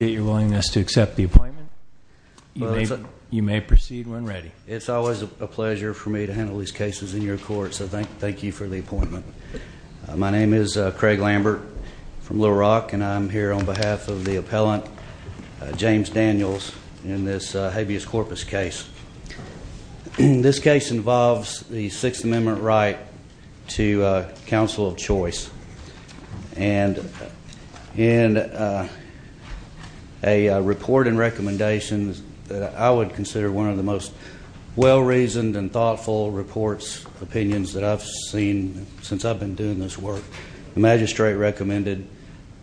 I appreciate your willingness to accept the appointment. You may proceed when ready. It's always a pleasure for me to handle these cases in your court, so thank you for the appointment. My name is Craig Lambert from Little Rock, and I'm here on behalf of the appellant, James Daniels, in this habeas corpus case. This case involves the Sixth Amendment right to counsel of choice, and in a report and recommendation that I would consider one of the most well-reasoned and thoughtful reports, opinions that I've seen since I've been doing this work, the magistrate recommended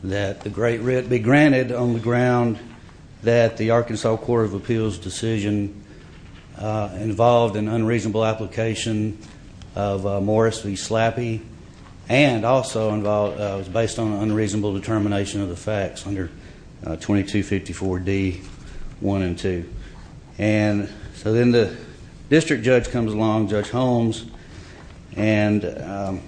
that the Great Writ be granted on the ground that the Arkansas Court of Appeals decision involved an unreasonable application of Morris v. Slappy, and also was based on an unreasonable determination of the facts under 2254 D. 1 and 2. So then the district judge comes along, Judge Holmes, and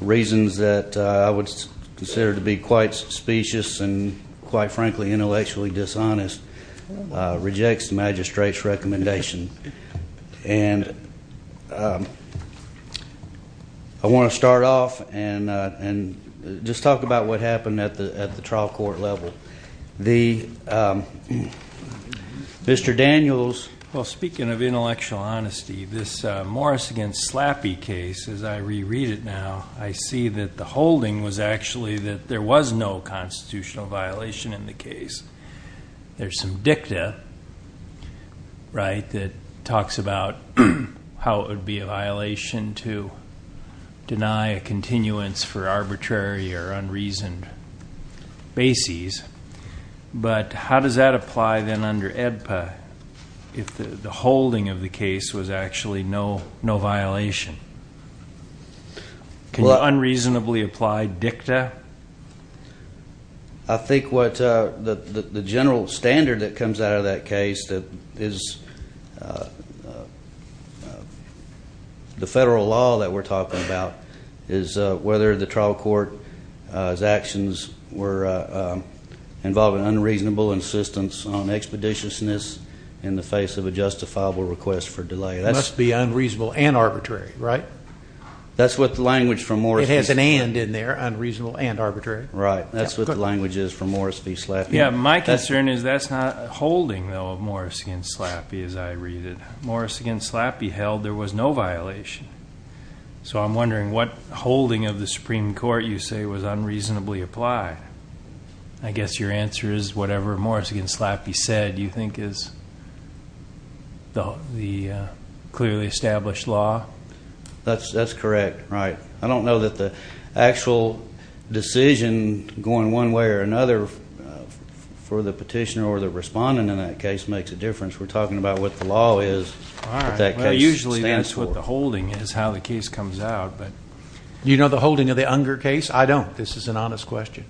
reasons that I would consider to be quite specious and quite frankly intellectually dishonest, rejects the magistrate's recommendation. I want to start off and just talk about what happened at the trial court level. Mr. Daniels. Well, speaking of intellectual honesty, this Morris v. Slappy case, as I said, there was no constitutional violation in the case. There's some dicta that talks about how it would be a violation to deny a continuance for arbitrary or unreasoned bases, but how does that apply then under EDPA if the holding of the case was actually no violation? Can you unreasonably apply dicta? I think what the general standard that comes out of that case is the federal law that we're talking about is whether the trial court's actions were involving unreasonable insistence on expeditiousness in the face of a justifiable request for delay. It must be unreasonable and arbitrary, right? That's what the language from Morris v. Slappy. It has an and in there, unreasonable and arbitrary. Right. That's what the language is from Morris v. Slappy. My concern is that's not holding, though, of Morris v. Slappy as I read it. Morris v. Slappy held there was no violation. So I'm wondering what holding of the Supreme Court you say was unreasonably applied. I guess your answer is whatever Morris v. Slappy said you think is the clearly established law? That's correct. Right. I don't know that the actual decision going one way or another for the petitioner or the respondent in that case makes a difference. We're talking about what the law is that that case stands for. The holding is how the case comes out. You know the holding of the Unger case? I don't. This is an honest question.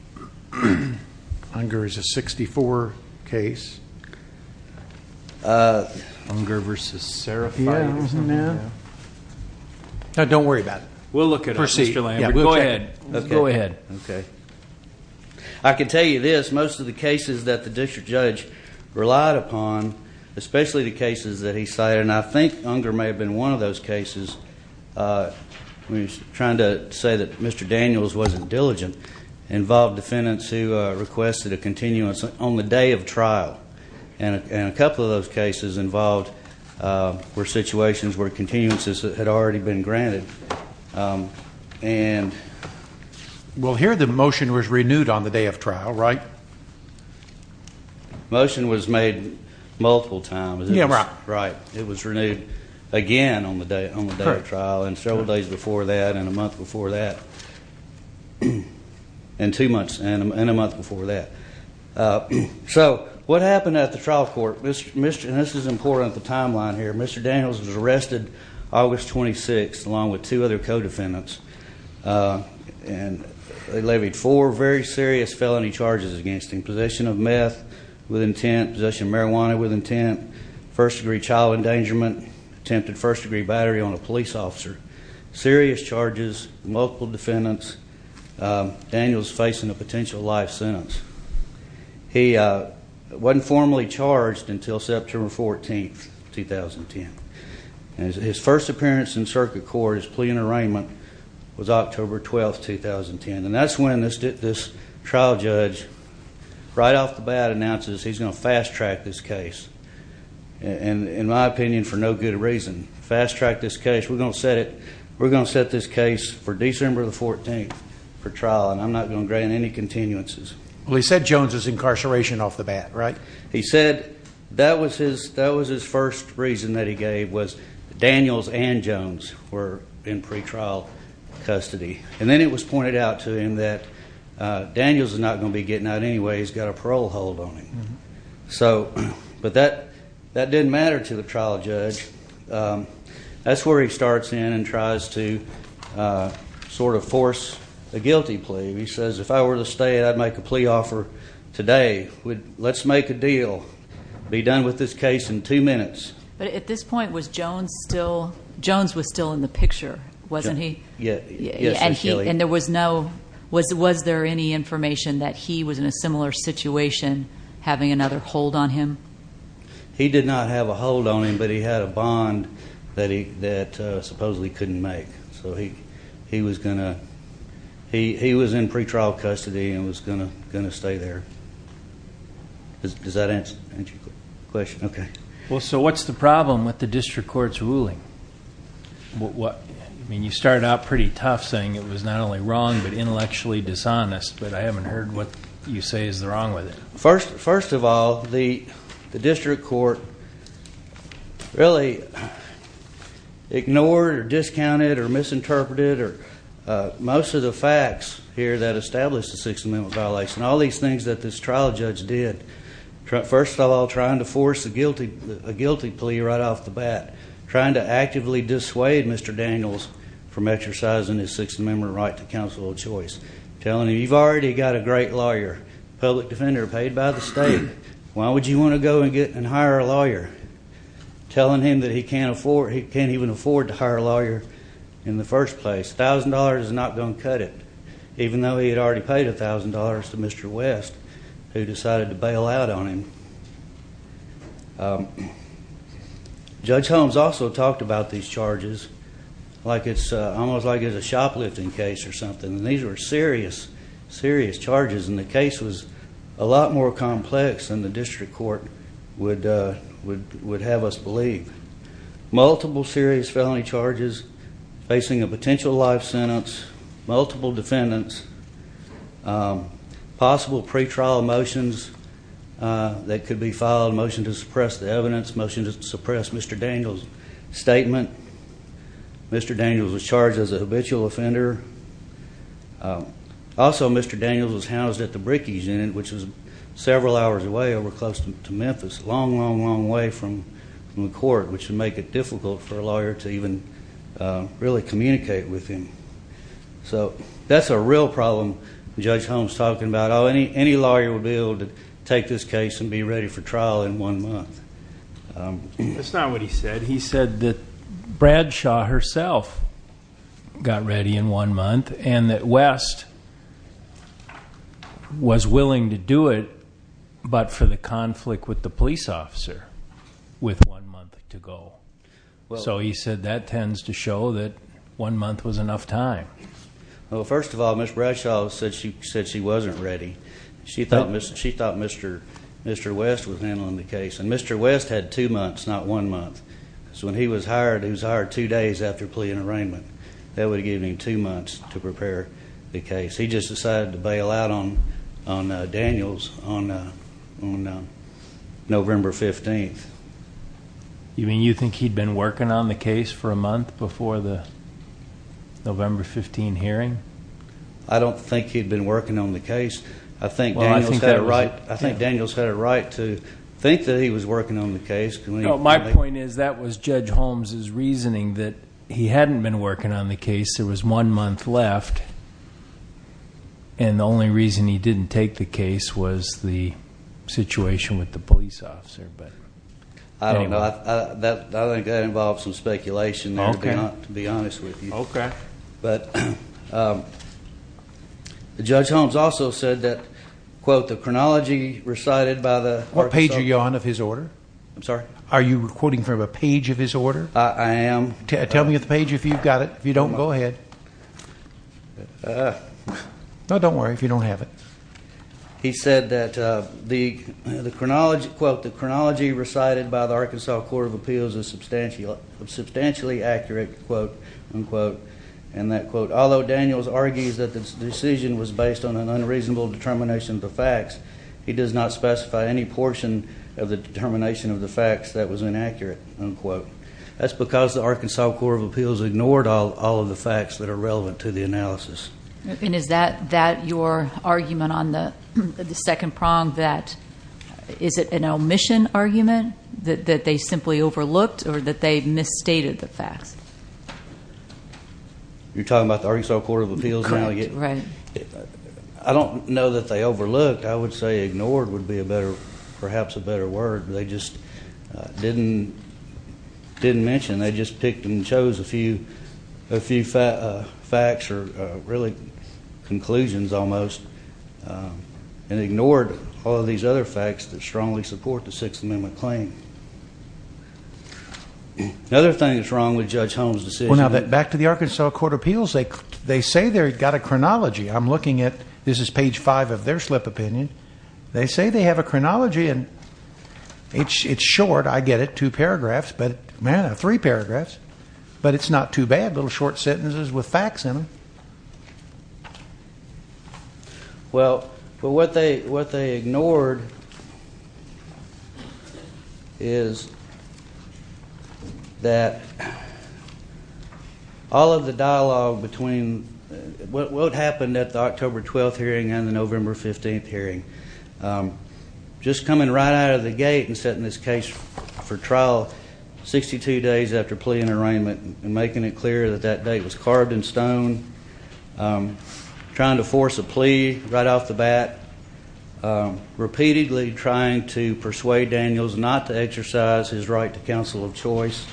Unger is a 64 case. Unger v. Seraphine. Don't worry about it. We'll look it up. Proceed. Go ahead. I can tell you this. Most of the cases that the district judge relied upon, especially the cases that he cited, and I think Unger may have been one of those cases trying to say that Mr. Daniels wasn't diligent, involved defendants who requested a continuance on the day of trial. And a couple of those cases involved were situations where continuances had already been granted. And we'll hear the motion was renewed on the day of trial, right? Motion was made multiple times. Right. It was renewed again on the day of trial and several days before that and a month before that. And two months and a month before that. So what happened at the trial court? This is important, the timeline here. Mr. Daniels was arrested August 26 along with two other co-defendants. And they levied four very serious felony charges against him. Possession of meth with intent. Possession of marijuana with intent. First degree child endangerment. Attempted first degree battery on a police officer. Serious charges. Multiple defendants. Daniels facing a potential life sentence. He wasn't formally charged until September 14, 2010. His first appearance in circuit court, his plea in arraignment was October 12, 2010. And that's when this trial judge right off the bat announces he's going to fast track this case. And in my opinion for no good reason. Fast track this case. We're going to set it. We're going to set this case for December 14 for trial and I'm not going to grant any continuances. Well he said Jones is incarceration off the bat, right? He said that was his first reason that he gave was Daniels and Jones were in pretrial custody. And then it was pointed out to him that Daniels is not going to be getting out anyway. He's got a parole hold on him. But that didn't matter to the trial judge. That's where he starts in and tries to sort of force a guilty plea. He says if I were to stay I'd make a plea offer today. Let's make a deal. Be done with this case in two minutes. At this point was Jones still in the picture, wasn't he? And was there any information that he was in a similar situation having another hold on him? He did not have a hold on him but he had a bond that supposedly he couldn't make. He was in pretrial custody and was going to stay there. Does that answer your question? Okay. What's the problem with the district court's ruling? You started out pretty tough saying it was not only wrong but intellectually dishonest but I haven't heard what you say is wrong with it. First of all, the district court really ignored or discounted or misinterpreted most of the facts here that established the Sixth Amendment violation. All these things that this trial judge did. First of all, trying to force a guilty plea right off the bat. Trying to actively dissuade Mr. Daniels from exercising his Sixth Amendment right to counsel of choice. Telling him you've already got a great lawyer, public defender paid by the state. Why would you want to go and hire a lawyer? Telling him that he can't even afford to hire a lawyer in the first place. A thousand dollars is not going to cut it. Even though he had already paid a thousand dollars to Mr. West who decided to bail out on him. Judge Holmes also talked about these charges almost like it was a shoplifting case or something. These were serious charges and the case was a lot more complex than the district court would have us believe. Multiple serious felony charges facing a potential life sentence, multiple defendants, possible pre-trial motions that could be filed, a motion to suppress the evidence, a motion to suppress Mr. Daniels' statement. Mr. Daniels was charged as a habitual offender. Also, Mr. Daniels was housed at the Bricky's Inn, which was several hours away over close to Memphis. Long, long, long way from the court, which would make it difficult for a lawyer to even really communicate with him. That's a real problem Judge Holmes talked about. Any lawyer would be able to take this case and be ready for trial in one month. That's not what he said. He said that Bradshaw herself got ready in one month and that West was willing to do it but for the conflict with the police officer with one month to go. So he said that tends to show that one month was enough time. Well, first of all, Ms. Bradshaw said she wasn't ready. She thought Mr. West was handling the case and Mr. West had two months, not one month. So when he was hired, he was hired two days after plea and arraignment. That would have given him two months to prepare the case. He just decided to bail out on Daniels on November 15th. You mean you think he'd been working on the case for a month before the November 15 hearing? I don't think he'd been working on the case. I think Daniels had a right to think that he was working on the case. My point is that was Judge Holmes' reasoning that he hadn't been working on the case. There was one month left and the only reason he didn't take the case was the situation with the police officer. I don't know. I think that involves some speculation to be honest with you. But Judge Holmes also said that quote the chronology recited by the... What page are you on of his order? I'm sorry? Are you quoting from a page of his order? I am. Tell me the page if you've got it. If you don't, go ahead. No, don't worry if you don't have it. He said that the chronology recited by the Arkansas Court of Appeals is substantially accurate, unquote. Although Daniels argues that the decision was based on an unreasonable determination of the facts, he does not specify any portion of the determination of the facts that was inaccurate, unquote. That's because the Arkansas Court of Appeals ignored all of the facts that are relevant to the analysis. And is that your argument on the second prong that is it an omission argument that they simply overlooked or that they misstated the facts? You're talking about the Arkansas Court of Appeals now? Correct. I don't know that they overlooked. I would say ignored would be perhaps a better word. They just didn't mention. They just picked and chose a few facts or really conclusions almost and ignored all of these other facts that strongly support the Holmes decision. Back to the Arkansas Court of Appeals, they say they've got a chronology. I'm looking at, this is page 5 of their slip opinion. They say they have a chronology and it's short. I get it. Two paragraphs. Man, three paragraphs. But it's not too bad. Little short sentences with facts in them. Well, what they ignored is that all of the dialogue between what happened at the October 12th hearing and the November 15th hearing. Just coming right out of the gate and setting this case for trial 62 days after plea and arraignment and making it clear that that date was carved in stone. Trying to force a plea right off the bat. Repeatedly trying to persuade Daniels not to exercise his right to counsel of choice.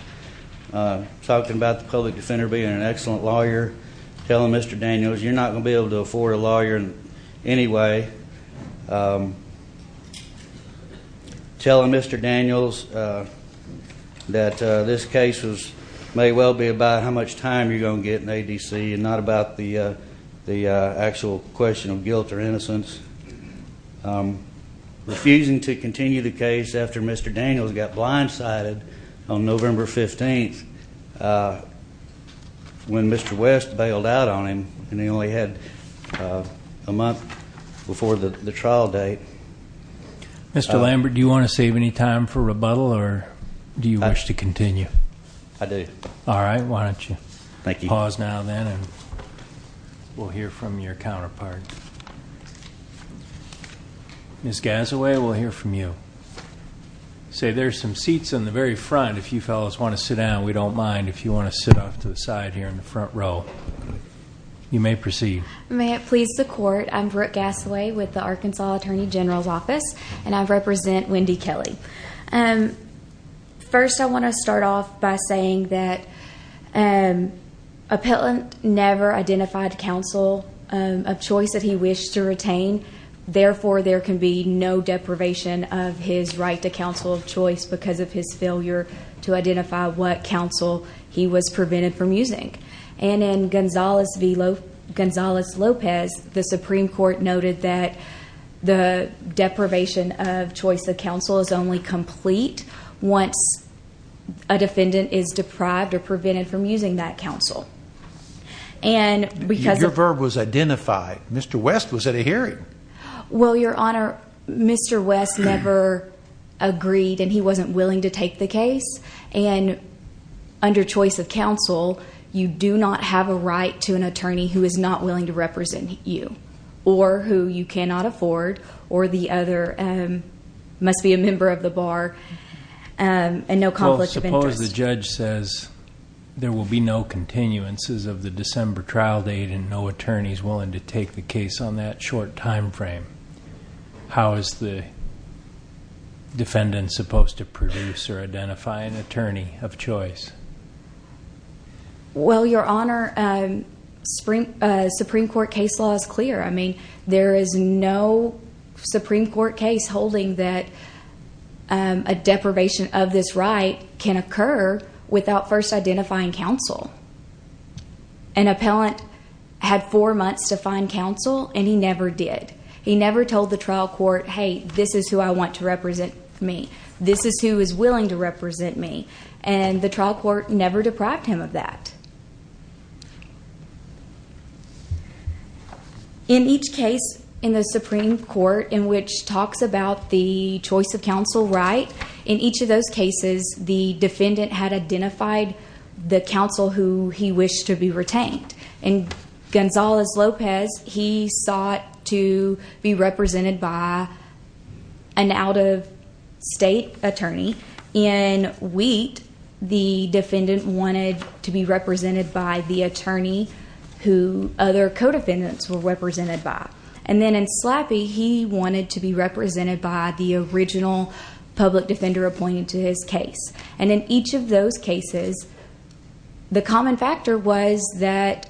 Talking about the public defender being an excellent lawyer. Telling Mr. Daniels you're not going to be able to afford a lawyer anyway. Telling Mr. Daniels that this case may well be about how much time you're going to get in ADC and not about the actual question of guilt or innocence. Refusing to continue the case after Mr. Daniels got blindsided on November 15th when Mr. West bailed out on him and he only had a month before the trial date. Mr. Lambert, do you want to save any time for rebuttal or do you wish to continue? I do. We'll hear from your counterpart. Ms. Gassaway, we'll hear from you. Say there's some seats in the very front if you fellows want to sit down. We don't mind if you want to sit off to the side here in the front row. You may proceed. I'm Brooke Gassaway with the Arkansas Attorney General's Office and I represent Wendy Kelly. First I want to start off by saying that appellant never identified counsel of choice that he wished to retain. Therefore there can be no deprivation of his right to counsel of choice because of his choice of counsel he was prevented from using. In Gonzalez-Lopez, the Supreme Court noted that the deprivation of choice of counsel is only complete once a defendant is deprived or prevented from using that counsel. Your verb was identified. Mr. West was at a hearing. Your Honor, Mr. West never agreed and he wasn't willing to take the case. Under choice of counsel, you do not have a right to an attorney who is not willing to represent you or who you cannot afford or the other must be a member of the bar and no conflict of interest. Mr. West says there will be no continuances of the December trial date and no attorneys willing to take the case on that short time frame. How is the defendant supposed to produce or identify an attorney of choice? Well, Your Honor, Supreme Court case law is clear. There is no Supreme Court case holding that a deprivation of this right can occur without first identifying counsel. An appellant had four months to find counsel and he never did. He never told the trial court, hey, this is who I want to represent me. This is who is willing to represent me and the trial court never deprived him of that. In each case in the Supreme Court in which talks about the choice of counsel right, in each of those cases the defendant had identified the counsel who he wished to be retained. In Gonzales-Lopez, he sought to be represented by an out-of-state attorney. In Wheat, the defendant wanted to be represented by the attorney who other co-defendants were represented by. And then in Slappy, he wanted to be represented by the original public defender appointed to his case. And in each of those cases, the common factor was that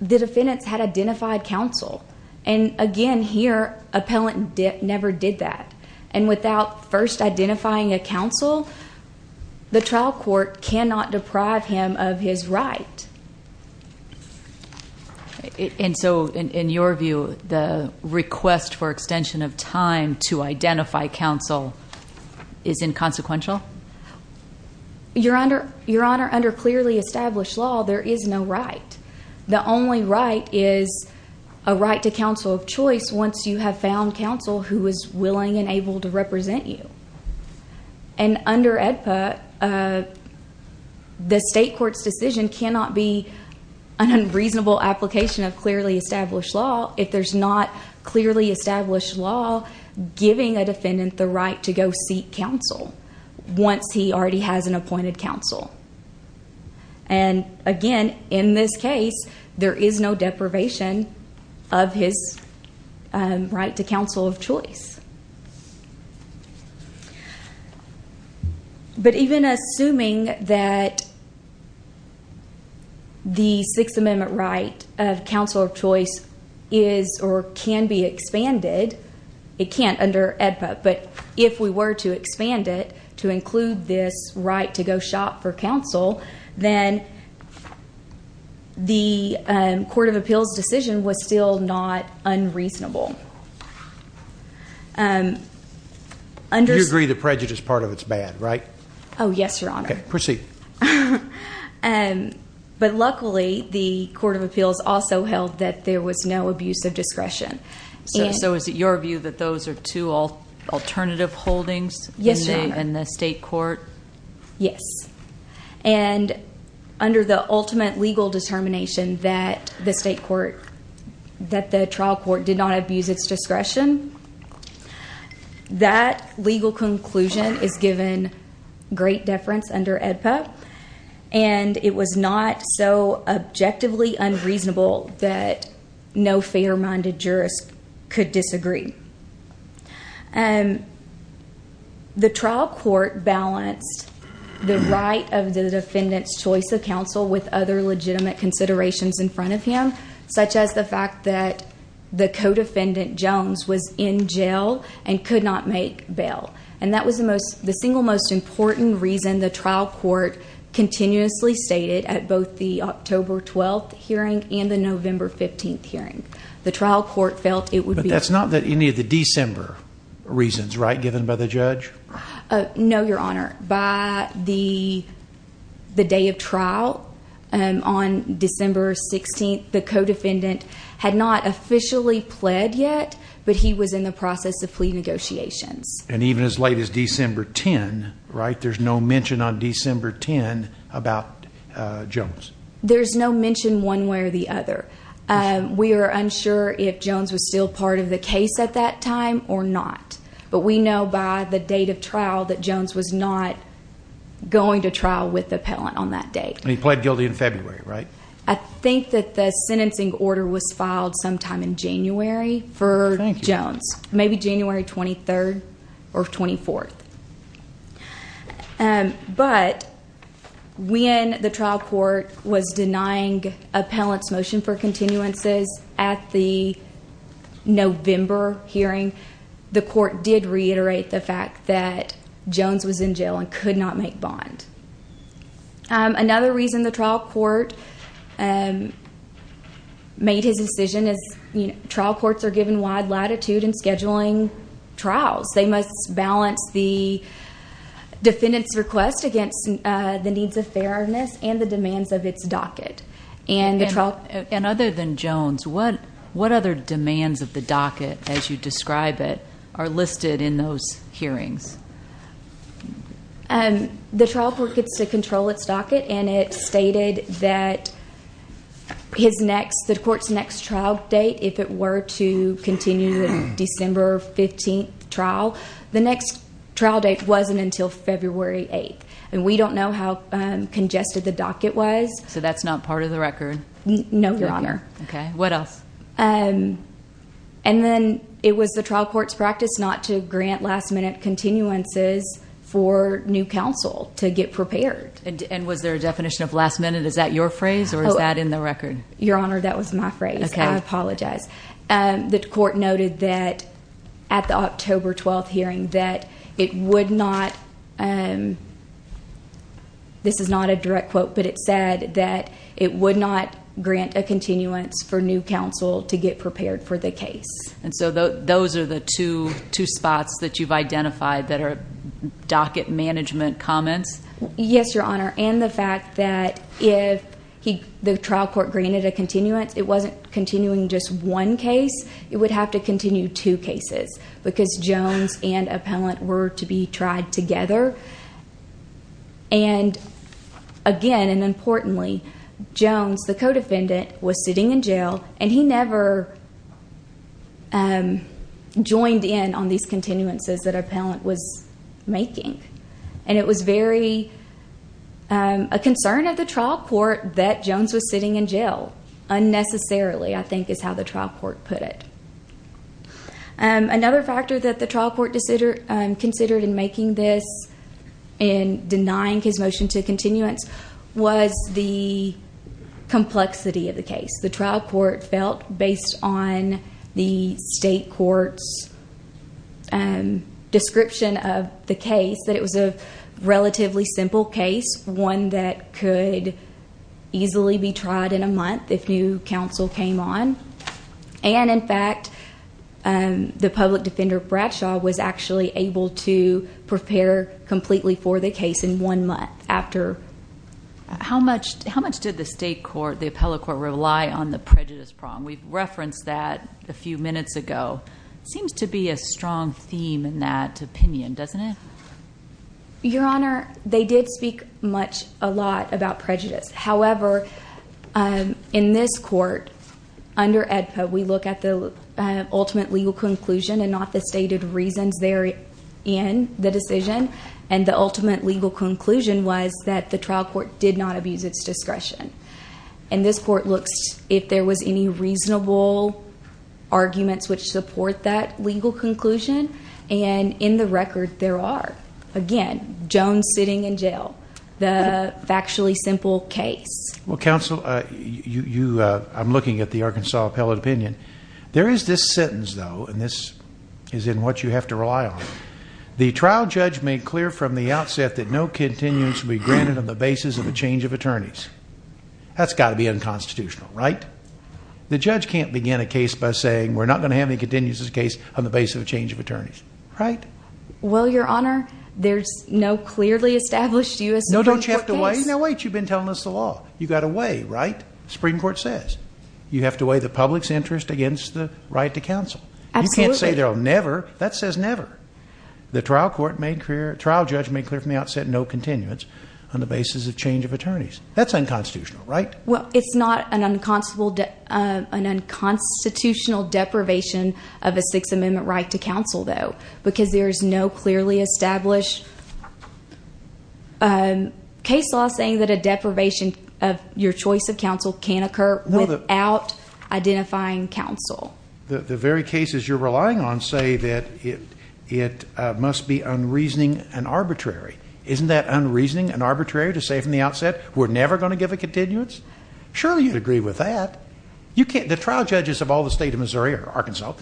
the defendants had identified counsel. And again here, appellant never did that. And without first identifying a counsel, the trial court cannot deprive him of his right. The request for extension of time to identify counsel is inconsequential? Your Honor, under clearly established law, there is no right. The only right is a right to counsel of choice once you have found counsel who is willing and able to represent you. And under AEDPA, the state court's decision cannot be an unreasonable application of clearly established law if there's not clearly established law giving a defendant the right to go seek counsel once he already has an appointed counsel. And again, in this case, there is no deprivation of his right to counsel of choice. But even assuming that the case was expanded, it can't under AEDPA. But if we were to expand it to include this right to go shop for counsel, then the Court of Appeals decision was still not unreasonable. You agree the prejudice part of it is bad, right? Oh, yes, Your Honor. But luckily, the Court of Appeals also held that there was no abuse of discretion. So is it your view that those are two alternative holdings in the state court? Yes. And under the ultimate legal determination that the trial court did not abuse its discretion, that legal conclusion is given great deference under AEDPA. And it was not so objectively unreasonable that no fair-minded jurist could disagree. The trial court balanced the right of the defendant's choice of counsel with other legitimate considerations in front of him, such as the fact that the co-defendant, Mr. Jones, was in jail and could not make bail. And that was the single most important reason the trial court continuously stated at both the October 12th hearing and the November 15th hearing. But that's not any of the December reasons, right, given by the judge? No, Your Honor. By the day of trial on December 16th, the co-defendant had not officially pled yet, but he was in the process of plea negotiations. And even as late as December 10, right, there's no mention on December 10 about Jones? There's no mention one way or the other. We are unsure if Jones was still part of the case at that time or not. But we know by the date of trial that Jones was not going to trial with the appellant on that date. And he pled guilty in February, right? I think that the sentencing order was filed sometime in January for Jones. Maybe January 23rd or 24th. But when the trial court was denying appellant's motion for continuances at the November hearing, the court did reiterate the fact that Jones was in jail and could not make bond. Another reason the trial court made his decision is trial courts are given wide latitude in scheduling trials. They must balance the defendant's request against the needs of fairness and the demands of its docket. And other than Jones, what other demands of the docket, as you describe it, are listed in those hearings? The trial court gets to control its docket and it stated that the court's next trial date, if it were to continue the December 15th trial, the next trial date wasn't until February 8th. And we don't know how congested the docket was. So that's not part of the record? No, Your Honor. And then it was the trial court's practice not to grant last minute continuances for new counsel to get prepared. And was there a definition of last minute? Is that your phrase? Or is that in the record? Your Honor, that was my phrase. I apologize. The court noted that at the October 12th hearing that it would not, this is not a direct quote, but it said that it would not grant a continuance for new counsel to get prepared for the case. And so those are the two spots that you've identified that are docket management comments? Yes, Your Honor. And the fact that if the trial court granted a continuance, it wasn't continuing just one case, it would have to continue two cases because Jones and Appellant were to be tried together. And again, and importantly, Jones, the co-defendant, was sitting in jail and he never joined in on these continuances that Appellant was making. And it was very, a concern of the trial court that Jones was sitting in jail unnecessarily, I think is how the trial court put it. Another factor that the trial court considered in making this, in denying his motion to continuance, was the complexity of the case. The trial court felt based on the state court's description of the case that it was a relatively simple case, one that could easily be tried in a month if new counsel came on. And in fact, the public defender Bradshaw was actually able to prepare completely for the case in one month after. How much did the a case that was brought to the trial court a few minutes ago. It seems to be a strong theme in that opinion, doesn't it? Your Honor, they did speak much, a lot about prejudice. However, in this court, under AEDPA, we look at the ultimate legal conclusion and not the stated reasons therein, the decision. And the ultimate legal conclusion was that the trial court did not abuse its discretion. And this court looks if there was any reasonable arguments which support that legal conclusion. And in the record, there are. Again, Jones sitting in jail. The factually simple case. I'm looking at the Arkansas appellate opinion. There is this sentence, though, and this is what you have to rely on. The trial judge made clear from the outset that no continuance would be granted on the basis of a change of attorneys. That's got to be unconstitutional, right? The judge can't begin a case by saying we're not going to have any continuance of the case on the basis of a change of attorneys. No, don't you have to weigh? No, wait, you've been telling us the law. You've got to weigh, right? The Supreme Court says. You have to weigh the public's interest against the right to counsel. You can't say they'll never. That says never. The trial judge made clear from the outset no continuance on the basis of change of attorneys. That's unconstitutional, right? Well, it's not an unconstitutional deprivation of a Sixth Amendment right to case law saying that a deprivation of your choice of counsel can occur without identifying counsel. The very cases you're relying on say that it must be unreasoning and arbitrary. Isn't that unreasoning and arbitrary to say from the outset we're never going to give a continuance? Surely you'd agree with that. The trial judges of all the state of Missouri or Arkansas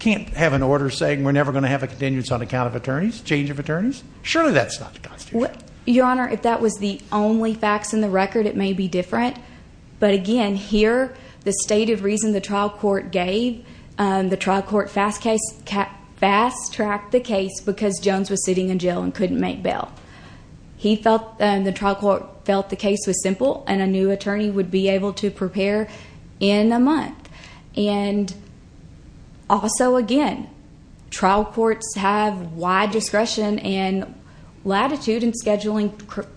can't have an order saying we're never going to have a continuance on account of attorneys, change of attorneys. Surely that's not constitutional. Your Honor, if that was the only facts in the record, it may be different. But again, here the state of reason the trial court gave, the trial court fast tracked the case because Jones was sitting in jail and couldn't make bail. The trial court felt the case was simple and a new attorney would be able to prepare in a month. And also again, trial courts have wide discretion and latitude in scheduling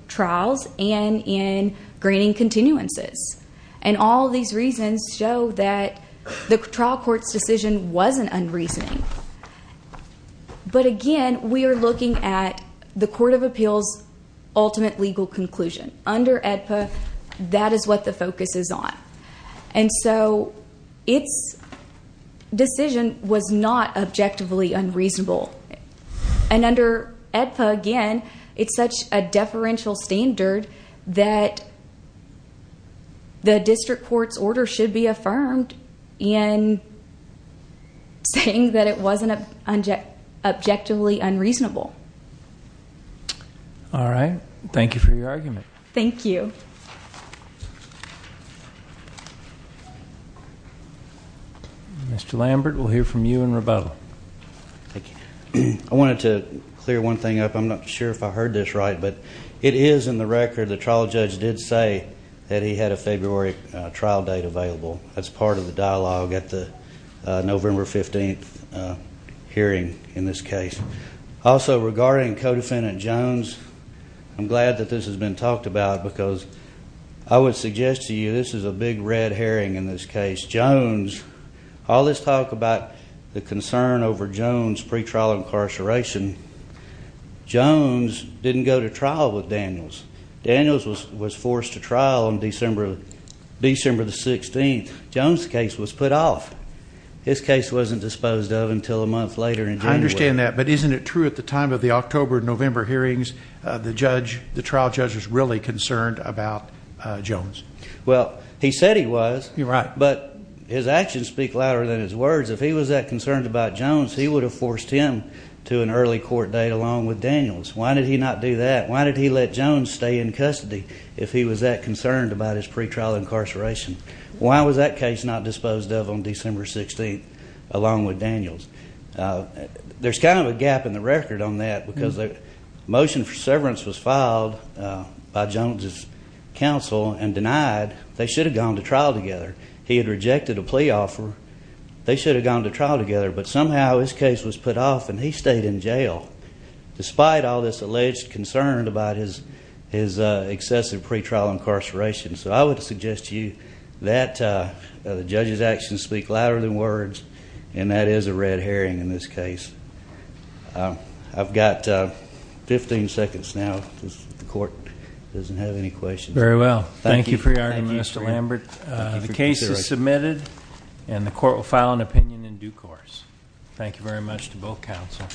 trials and in granting continuances. And all these reasons show that the trial court's decision wasn't unreasoning. But again, we are looking at the Court of Appeals ultimate legal conclusion. Under AEDPA, that is what the focus is on. And so its decision was not objectively unreasonable. And under AEDPA again, it's such a deferential standard that the district court's order should be affirmed in saying that it wasn't objectively unreasonable. All right. Thank you for your argument. Thank you. Mr. Lambert, we'll hear from you in rebuttal. I wanted to clear one thing up. I'm not sure if I heard this right, but it is in the record the trial judge did say that he had a February trial date available. That's part of the dialogue at the November 15th hearing in this case. Also, regarding Co-Defendant Jones, I'm glad that this has been talked about because I would suggest to you this is a big red herring in this case. Jones, all this talk about the concern over Jones' pretrial incarceration, Jones didn't go to trial with Daniels. Daniels was forced to trial on December 16th. Jones' case was put off. His case wasn't disposed of until a month later in January. I understand that, but isn't it true at the time of the October-November hearings the trial judge was really concerned about Jones? Well, he said he was. You're right. But his actions speak louder than his words. If he was that concerned about Jones, he would have forced him to an early court date along with Daniels. Why did he not do that? Why did he let Jones stay in custody if he was that concerned about his pretrial incarceration? Why was that case not disposed of on December 16th along with Daniels? There's kind of a gap in the record on that because the motion for severance was filed by Jones' counsel and denied. They should have gone to trial together. He had rejected a plea offer. They should have gone to trial together, but somehow his case was put off and he stayed in jail despite all this alleged concern about his excessive pretrial incarceration. So I would suggest to you that the judge's actions speak louder than words, and that is a red herring in this case. I've got 15 seconds now. The court doesn't have any questions. Very well. Thank you for your honor, Mr. Lambert. The case is submitted and the court will file an opinion in due course. Thank you very much to both counsel.